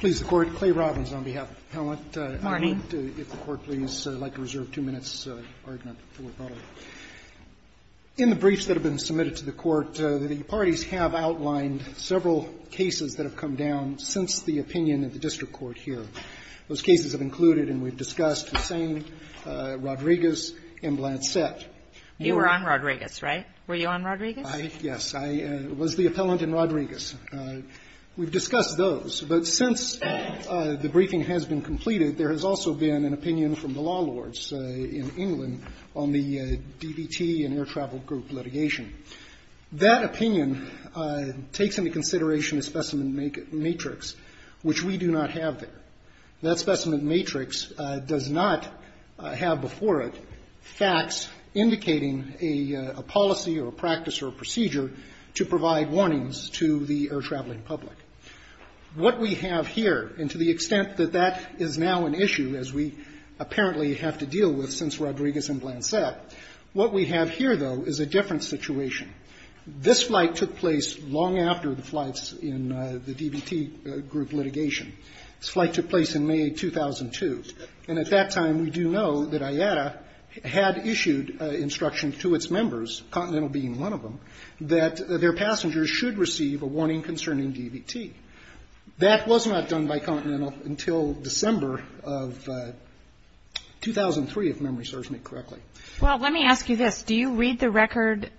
CLAY ROBINS, APPELLANT AT THE DISTRICT COURT CLAY ROBINS, APPELLANT AT THE DISTRICT COURT Please, Your Honor. I am Clay Robins on behalf of the appellant. I would like to reserve two minutes. In the briefs that have been submitted to the Court, the parties have outlined several cases that have come down since the opinion of the District Court here. Those cases have included, and we have discussed, Hussain, Rodriguez, and Blansett. You were on Rodriguez, right? Were you on Rodriguez? Yes, I was the appellant in Rodriguez. We've discussed those. But since the briefing has been completed, there has also been an opinion from the law lords in England on the DVT and air travel group litigation. That opinion takes into consideration a specimen matrix, which we do not have there. That specimen matrix does not have before it facts indicating a policy or a practice or a procedure to provide warnings to the air traveling public. What we have here, and to the extent that that is now an issue, as we apparently have to deal with since Rodriguez and Blansett, what we have here, though, is a different situation. This flight took place long after the flights in the DVT group litigation. This flight took place in May 2002. And at that time, we do know that IATA had issued instructions to its members, Continental being one of them, that their passengers should receive a warning concerning DVT. That was not done by Continental until December of 2003, if memory serves me correctly. Well, let me ask you this. Do you read the record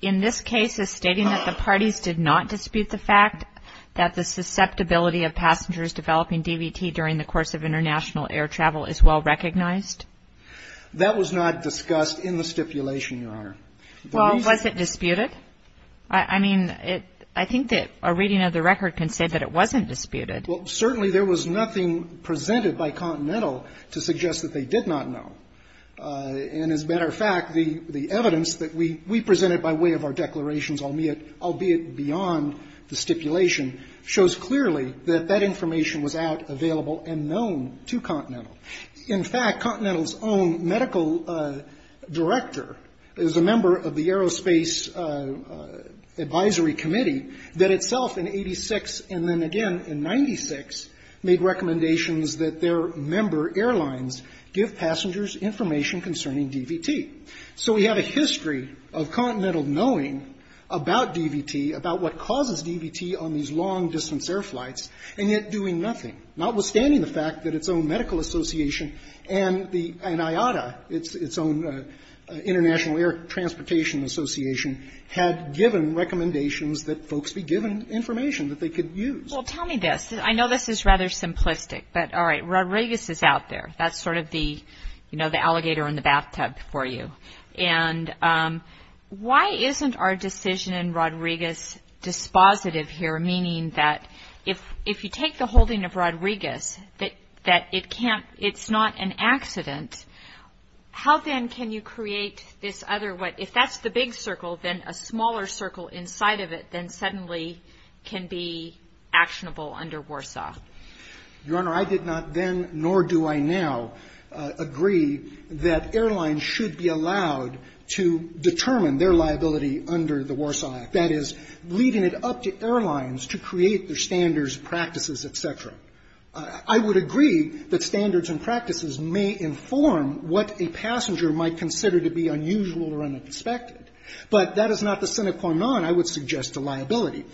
in this case as stating that the passengers developing DVT during the course of international air travel is well recognized? That was not discussed in the stipulation, Your Honor. Well, was it disputed? I mean, I think that a reading of the record can say that it wasn't disputed. Well, certainly there was nothing presented by Continental to suggest that they did not know. And as a matter of fact, the evidence that we presented by way of our declarations, albeit beyond the stipulation, shows clearly that that information was out, available and known to Continental. In fact, Continental's own medical director is a member of the Aerospace Advisory Committee that itself in 86 and then again in 96 made recommendations that their member airlines give passengers information concerning DVT. So we have a history of Continental knowing about DVT, about what causes DVT on these long-distance air flights, and yet doing nothing, notwithstanding the fact that its own medical association and IATA, its own International Air Transportation Association, had given recommendations that folks be given information that they could use. Well, tell me this. I know this is rather simplistic, but all right, Rodriguez is out there. That's sort of the, you know, the alligator in the bathtub for you. And why isn't our decision in Rodriguez dispositive here, meaning that if you take the holding of Rodriguez that it can't, it's not an accident, how then can you create this other, if that's the big circle, then a smaller circle inside of it then suddenly can be actionable under Warsaw? Your Honor, I did not then, nor do I now, agree that airlines should be allowed to determine their liability under the Warsaw Act, that is, leading it up to airlines to create their standards, practices, et cetera. I would agree that standards and practices may inform what a passenger might consider to be unusual or unexpected, but that is not the sine qua non I would suggest to liability.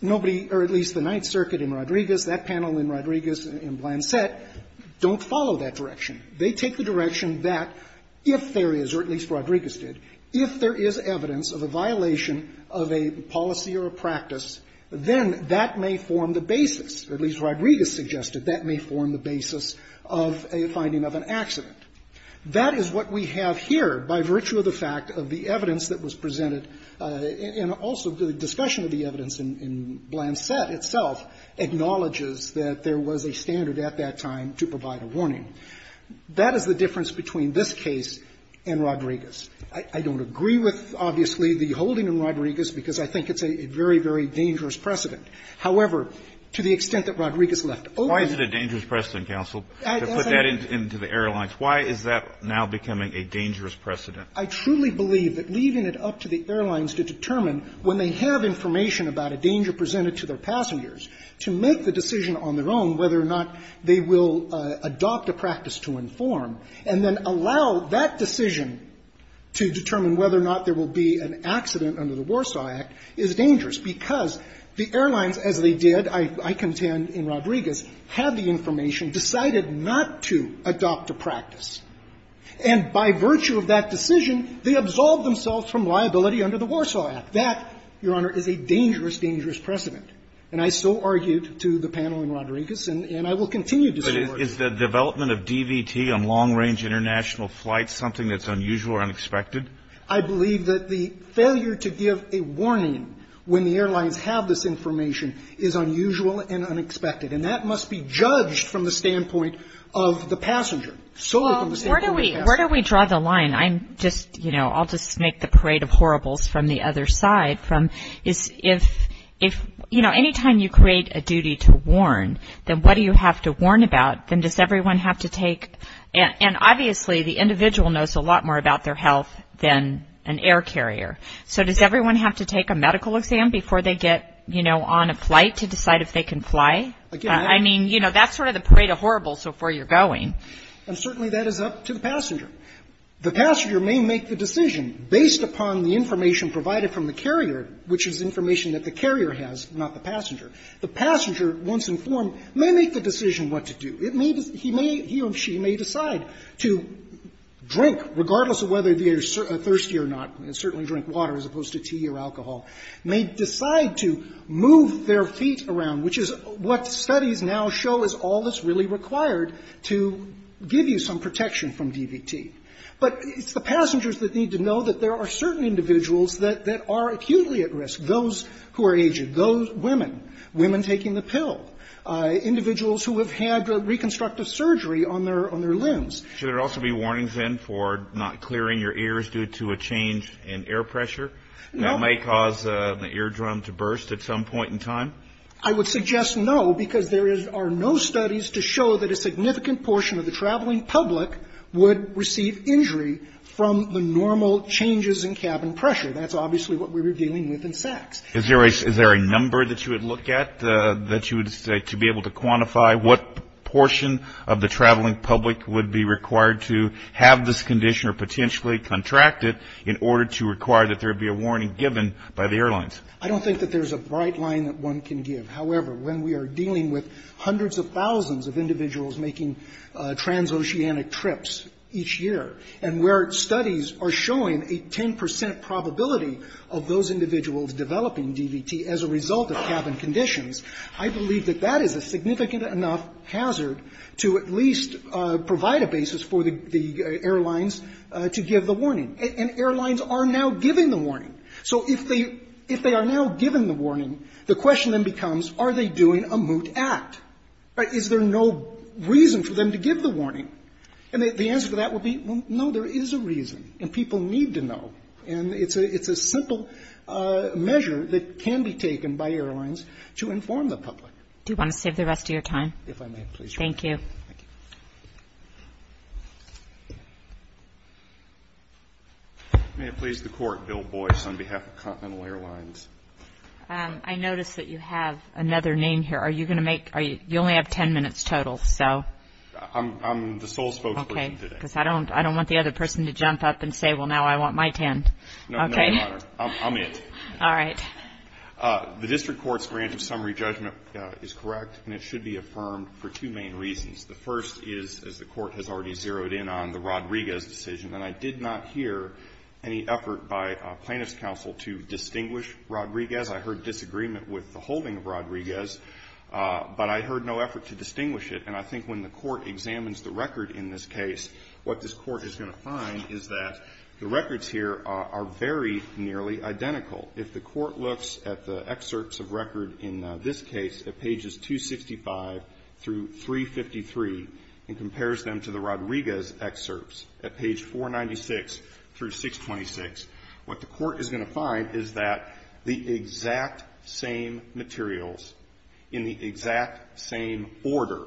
Nobody, or at least the Ninth Circuit in Rodriguez, that panel in Rodriguez and Blancet, don't follow that direction. They take the direction that if there is, or at least Rodriguez did, if there is evidence of a violation of a policy or a practice, then that may form the basis, or at least Rodriguez suggested that may form the basis of a finding of an accident. That is what we have here by virtue of the fact of the evidence that was presented and also the discussion of the evidence in Blancet itself acknowledges that there was a standard at that time to provide a warning. That is the difference between this case and Rodriguez. I don't agree with, obviously, the holding in Rodriguez because I think it's a very, very dangerous precedent. However, to the extent that Rodriguez left open to put that into the airlines, why is that now becoming a dangerous precedent? I truly believe that leaving it up to the airlines to determine when they have information about a danger presented to their passengers, to make the decision on their own whether or not they will adopt a practice to inform, and then allow that decision to determine whether or not there will be an accident under the Warsaw Act, is dangerous because the airlines, as they did, I contend, in Rodriguez, had the information, decided not to adopt a practice. And by virtue of that decision, they were able to make the decision, they absolved themselves from liability under the Warsaw Act. That, Your Honor, is a dangerous, dangerous precedent. And I so argued to the panel in Rodriguez, and I will continue to support it. But is the development of DVT on long-range international flights something that's unusual or unexpected? I believe that the failure to give a warning when the airlines have this information is unusual and unexpected. And that must be judged from the standpoint of the passenger. So from the standpoint of the passenger. Where do we draw the line? I'm just, you know, I'll just make the parade of horribles from the other side. If, you know, anytime you create a duty to warn, then what do you have to warn about? Then does everyone have to take, and obviously the individual knows a lot more about their health than an air carrier. So does everyone have to take a medical exam before they get, you know, on a flight to decide if they can fly? I mean, you know, that's sort of the parade of horribles of where you're going. And certainly that is up to the passenger. The passenger may make the decision based upon the information provided from the carrier, which is information that the carrier has, not the passenger. The passenger, once informed, may make the decision what to do. It may be he or she may decide to drink, regardless of whether they are thirsty or not, and certainly drink water as opposed to tea or alcohol. May decide to move their feet around, which is what studies now show is all that's really required to give you some protection from DVT. But it's the passengers that need to know that there are certain individuals that are acutely at risk. Those who are aged. Those women. Women taking the pill. Individuals who have had reconstructive surgery on their limbs. Should there also be warnings, then, for not clearing your ears due to a change in air pressure? No. That may cause the eardrum to burst at some point in time? I would suggest no, because there is no studies to show that a significant portion of the traveling public would receive injury from the normal changes in cabin pressure. That's obviously what we're dealing with in Sachs. Is there a number that you would look at that you would say to be able to quantify what portion of the traveling public would be required to have this condition or potentially contract it in order to require that there be a warning given by the airlines? I don't think that there's a bright line that one can give. However, when we are dealing with hundreds of thousands of individuals making transoceanic trips each year, and where studies are showing a 10 percent probability of those individuals developing DVT as a result of cabin conditions, I believe that that is a significant enough hazard to at least provide a basis for the airlines to give the warning. And airlines are now giving the warning. So if they are not giving the warning, the question then becomes, are they doing a moot act? Is there no reason for them to give the warning? And the answer to that would be, well, no, there is a reason, and people need to know. And it's a simple measure that can be taken by airlines to inform the public. Do you want to save the rest of your time? If I may, please. Thank you. May it please the Court, Bill Boyce, on behalf of Continental Airlines. I notice that you have another name here. Are you going to make — you only have 10 minutes total, so. I'm the sole spokesperson today. Okay. Because I don't want the other person to jump up and say, well, now I want my 10. Okay? No, Your Honor. I'm it. All right. The district court's grant of summary judgment is correct, and it should be affirmed for two main reasons. The first is, as the Court has already zeroed in on, the Rodriguez decision, and I did not hear any effort by plaintiff's counsel to distinguish Rodriguez. I heard disagreement with the holding of Rodriguez, but I heard no effort to distinguish it. And I think when the Court examines the record in this case, what this Court is going to find is that the records here are very nearly identical. If the Court looks at the excerpts of record in this case at pages 265 through 353 and compares them to the Rodriguez excerpts at page 496 through 626, what the Court is going to find is that the exact same materials in the exact same order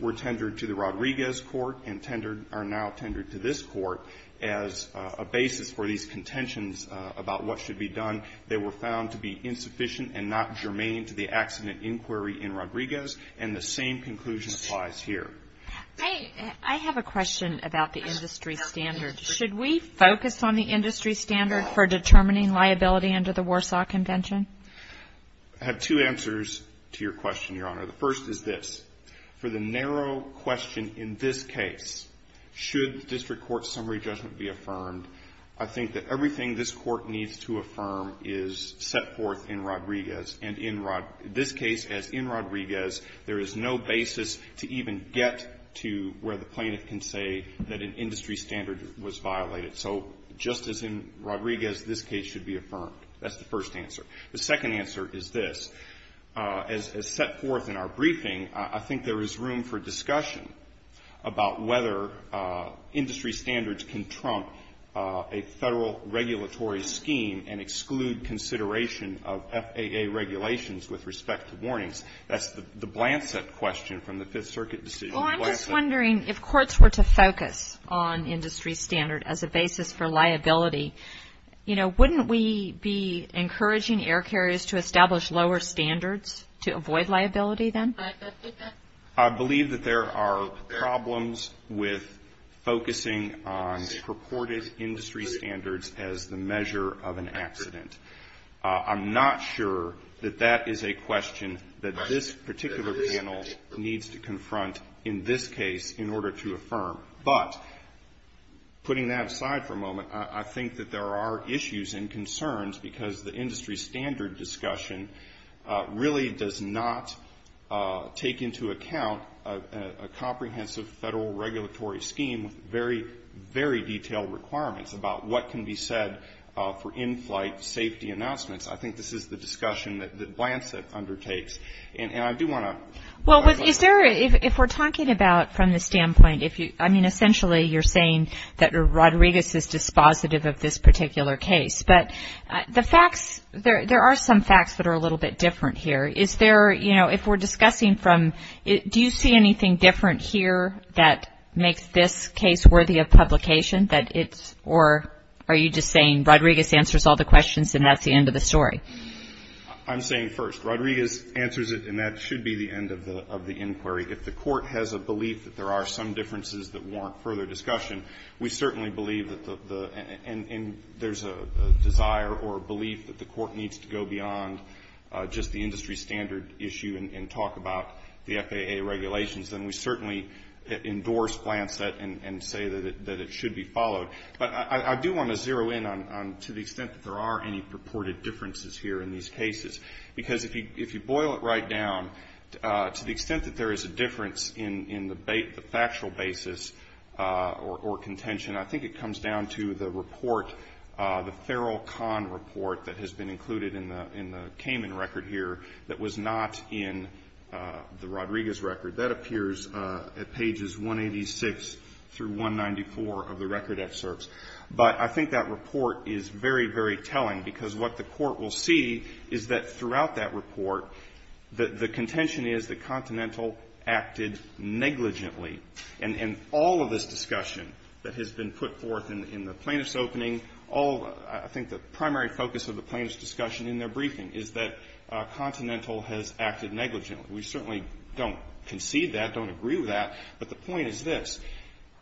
were tendered to the Rodriguez court and tendered — are now tendered to this court as a basis for these contentions about what should be done. They were found to be insufficient and not germane to the accident inquiry in Rodriguez, and the same conclusion applies here. MS. GOTTLIEB I have a question about the industry standard. Should we focus on the industry standard for determining liability under the Warsaw Convention? MR. GARRETT I have two answers to your question, Your Honor. The first is this. For the narrow question in this case, should the district court summary judgment be affirmed, I think that everything this Court needs to affirm is set forth in Rodriguez and in this case, as in Rodriguez, there is no basis to even get to where the plaintiff can say that an industry standard was violated. So just as in Rodriguez, this case should be affirmed. That's the first answer. The second answer is this. As set forth in our briefing, I think there is room for discussion about whether industry standards can trump a Federal regulatory scheme and regulations with respect to warnings. That's the blanset question from the Fifth Circuit decision. MS. GOTTLIEB I'm just wondering if courts were to focus on industry standard as a basis for liability, you know, wouldn't we be encouraging air carriers to establish lower standards to avoid liability then? MR. GARRETT I believe that there are problems with focusing on purported industry standards as the measure of an accident. I'm not sure that that is a question that this particular panel needs to confront in this case in order to affirm. But putting that aside for a moment, I think that there are issues and concerns because the industry standard discussion really does not take into account a comprehensive Federal regulatory scheme with very, very detailed requirements about what can be said for in-flight safety announcements. I think this is the discussion that the blanset undertakes. And I do want MS. GOTTLIEB Well, is there, if we're talking about from the standpoint, I mean, essentially you're saying that Rodriguez is dispositive of this particular case. But the facts, there are some facts that are a little bit different here. Is there, you know, if we're discussing from, do you see anything different here that makes this case worthy of publication that it's, or are you just saying Rodriguez answers all the questions and that's the end MR. GARRETT I'm saying first, Rodriguez answers it and that should be the end of the inquiry. If the Court has a belief that there are some differences that warrant further discussion, we certainly believe that the, and there's a desire or a belief that the Court needs to go beyond just the industry standard issue and talk about the FAA regulations, then we certainly endorse blanset and say that it should be followed. But I do want to zero in on, to the extent that there are any purported differences here in these cases. Because if you boil it right down, to the extent that there is a difference in the factual basis or contention, I think it comes down to the report, the Feral Con report that has been included in the Cayman record here that was not in the Rodriguez record. That appears at pages 186 through 194 of the record excerpts. But I think that report is very, very telling because what the Court will see is that throughout that report, the contention is that Continental acted negligently. And all of this discussion that has been put forth in the plaintiff's opening, all, I think the primary focus of the plaintiff's discussion in their briefing is that Continental has acted negligently. We certainly don't concede that, don't agree with that, but the point is this.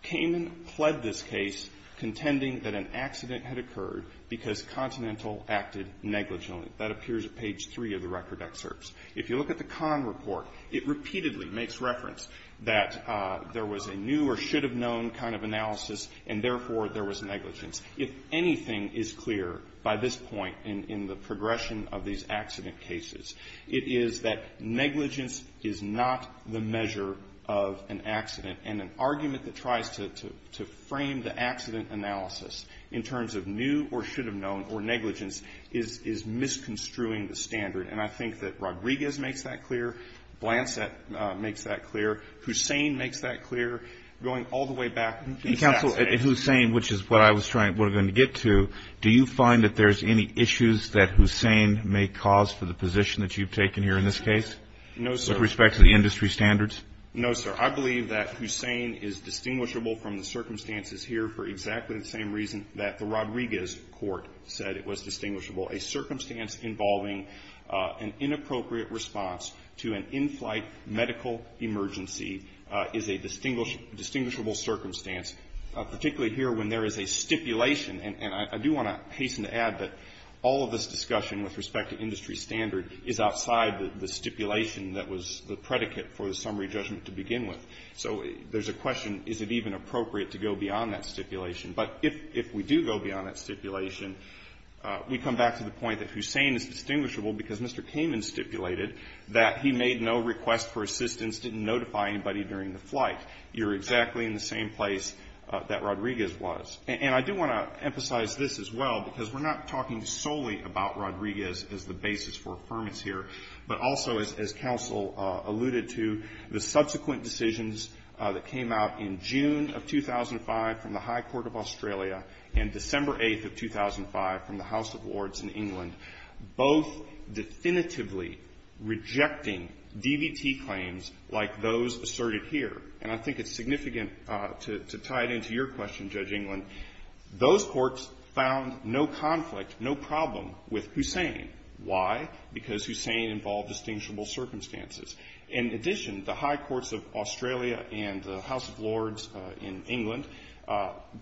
Cayman pled this case contending that an accident had occurred because Continental acted negligently. That appears at page 3 of the record excerpts. If you look at the Con report, it repeatedly makes reference that there was a new or should-have-known kind of analysis, and therefore, there was negligence. If anything is clear by this point in the progression of these accident cases, it is that negligence is not the measure of an accident. And an argument that tries to frame the accident analysis in terms of new or should-have-known or negligence is misconstruing the standard. And I think that Rodriguez makes that clear. Blancet makes that clear. Hussain makes that clear. Going all the way back to the facts. And counsel, in Hussain, which is what I was trying, what we're going to get to, do you find that there's any issues that Hussain may cause for the position that you've taken here in this case? No, sir. With respect to the industry standards? No, sir. I believe that Hussain is distinguishable from the circumstances here for exactly the same reason that the Rodriguez court said it was distinguishable, a circumstance involving an inappropriate response to an in-flight medical emergency is a distinguishable circumstance, particularly here when there is a stipulation. And I do want to hasten to add that all of this discussion with respect to industry standard is outside the stipulation that was the predicate for the summary judgment to begin with. So there's a question, is it even appropriate to go beyond that stipulation? But if we do go beyond that stipulation, we come back to the point that Hussain is distinguishable because Mr. Kamen stipulated that he made no request for assistance, didn't notify anybody during the flight. You're exactly in the same place that Rodriguez was. And I do want to emphasize this as well because we're not talking solely about Rodriguez as the basis for affirmance here, but also as counsel alluded to, the subsequent of 2005 from the House of Lords in England, both definitively rejecting DVT claims like those asserted here. And I think it's significant to tie it into your question, Judge Englund. Those courts found no conflict, no problem with Hussain. Why? Because Hussain involved distinguishable circumstances. In addition, the high courts of Australia and the House of Lords in England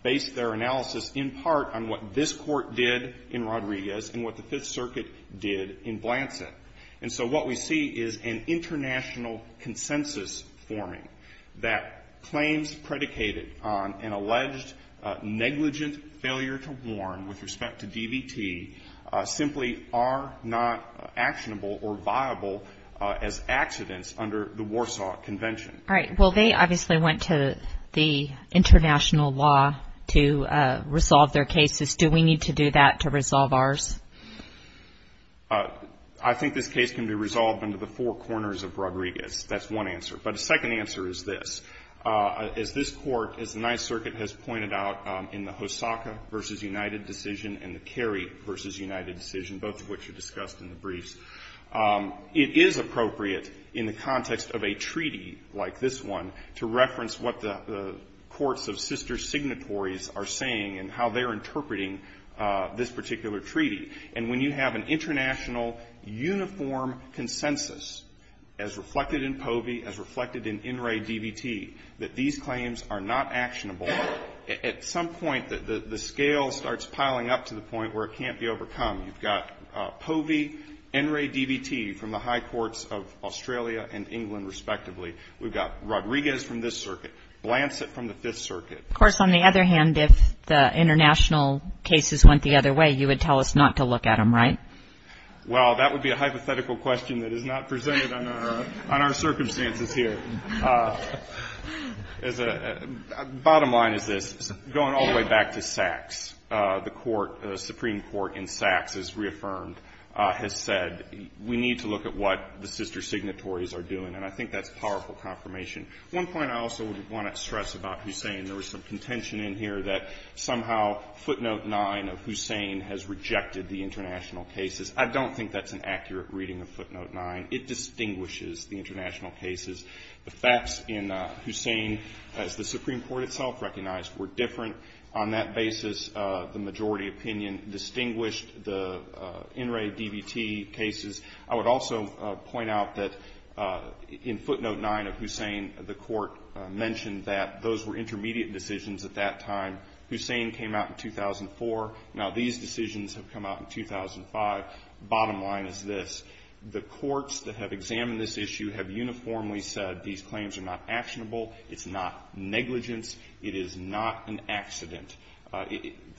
based their analysis in part on what Hussain said and what this court did in Rodriguez and what the Fifth Circuit did in Blanson. And so what we see is an international consensus forming that claims predicated on an alleged negligent failure to warn with respect to DVT simply are not actionable or viable as accidents under the Warsaw Convention. All right. Well, they obviously went to the international law to resolve their cases to do we need to do that to resolve ours? I think this case can be resolved under the four corners of Rodriguez. That's one answer. But a second answer is this. As this court, as the Ninth Circuit has pointed out in the Hosaka v. United decision and the Kerry v. United decision, both of which are discussed in the briefs, it is appropriate in the context of a treaty like this one to reference what the courts of sister signatories are saying and how they're interpreting this particular treaty. And when you have an international uniform consensus, as reflected in POVI, as reflected in NRA DVT, that these claims are not actionable, at some point the scale starts piling up to the point where it can't be overcome. You've got POVI, NRA DVT from the high courts of Australia and England, respectively. We've got Rodriguez from this circuit, Blancet from the Fifth Circuit. Of course, on the other hand, if the international cases went the other way, you would tell us not to look at them, right? Well, that would be a hypothetical question that is not presented on our circumstances here. Bottom line is this. Going all the way back to Sachs, the Supreme Court in Sachs has reaffirmed, has said, we need to look at what the sister signatories are doing. And I think that's powerful confirmation. One point I also want to stress about Hussein, there was some contention in here that somehow footnote 9 of Hussein has rejected the international cases. I don't think that's an accurate reading of footnote 9. It distinguishes the international cases. The facts in Hussein, as the Supreme Court itself recognized, were different. On that basis, the majority opinion distinguished the NRA DVT cases. I would also point out that in footnote 9 of Hussein, the court mentioned that those were intermediate decisions at that time. Hussein came out in 2004. Now these decisions have come out in 2005. Bottom line is this. The courts that have examined this issue have uniformly said these claims are not actionable. It's not negligence. It is not an accident.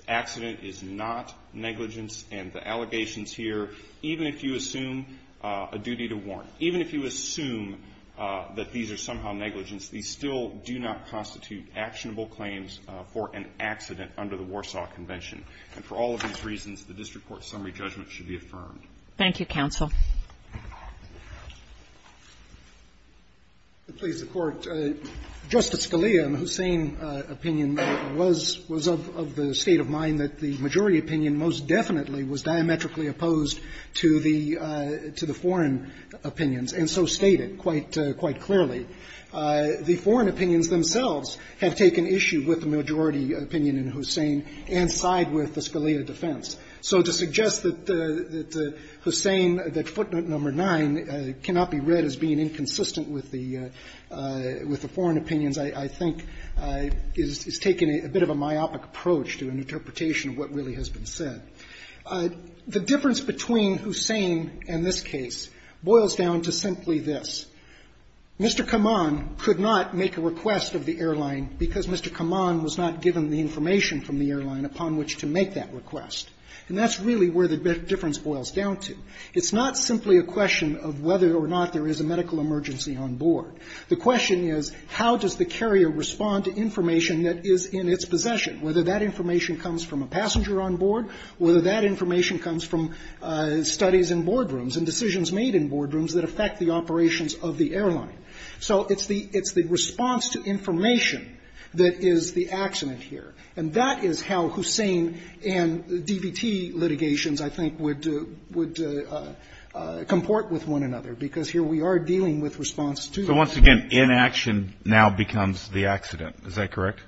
Accident is not negligence, and the allegations here, even if you assume a duty to warrant, even if you assume that these are somehow negligence, these still do not constitute actionable claims for an accident under the Warsaw Convention. And for all of these reasons, the district court summary judgment should be affirmed. Thank you, counsel. Please, the Court. Justice Scalia, in Hussein's opinion, was of the state of mind that the majority opinion most definitely was diametrically opposed to the foreign opinions, and so stated quite clearly. The foreign opinions themselves have taken issue with the majority opinion in Hussein and side with the Scalia defense. So to suggest that Hussein, that footnote number 9 cannot be read as being inconsistent with the foreign opinions, I think, is taking a bit of a myopic approach to an interpretation of what really has been said. The difference between Hussein and this case boils down to simply this. Mr. Kaman could not make a request of the airline because Mr. Kaman was not given the information from the airline upon which to make that request. And that's really where the difference boils down to. It's not simply a question of whether or not there is a medical emergency on board. The question is, how does the carrier respond to information that is in its possession, whether that information comes from a passenger on board, whether that information comes from studies in boardrooms and decisions made in boardrooms that affect the operations of the airline? So it's the response to information that is the accident here. And that is how Hussein and the DVT litigations, I think, would comport with one another, because here we are dealing with response to that. So once again, inaction now becomes the accident. Is that correct?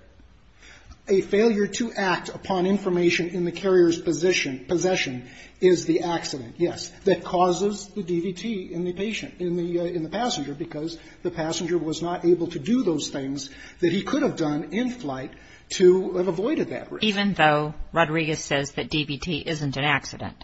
A failure to act upon information in the carrier's position, possession, is the accident, yes, that causes the DVT in the patient, in the passenger, because the passenger was not able to do those things that he could have done in flight to have avoided that risk. Even though Rodriguez says that DVT isn't an accident.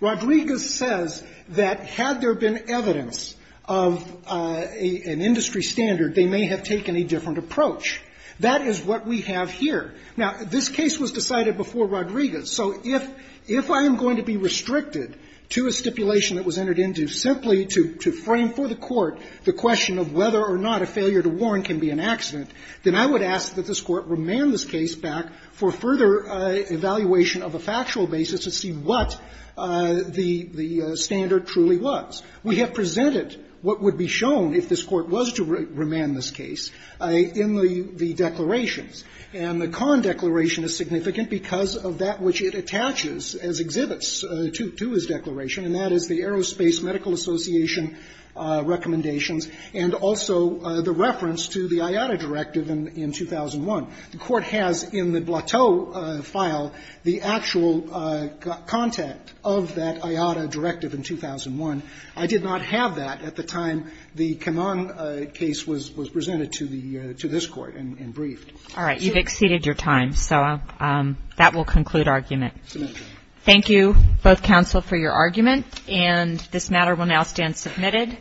Rodriguez says that had there been evidence of an industry standard, they may have taken a different approach. That is what we have here. Now, this case was decided before Rodriguez. So if I am going to be restricted to a stipulation that was entered into simply to frame for the Court the question of whether or not a failure to warn can be an accident, then I would ask that this Court remand this case back for further evaluation of a factual basis to see what the standard truly was. We have presented what would be shown if this Court was to remand this case in the And the con declaration is significant because of that which it attaches as exhibits to his declaration, and that is the Aerospace Medical Association recommendations and also the reference to the IATA directive in 2001. The Court has in the Blateau file the actual content of that IATA directive in 2001. I did not have that at the time the Kaman case was presented to the to this Court in Brazil. All right. You have exceeded your time, so that will conclude argument. Thank you, both counsel, for your argument, and this matter will now stand submitted.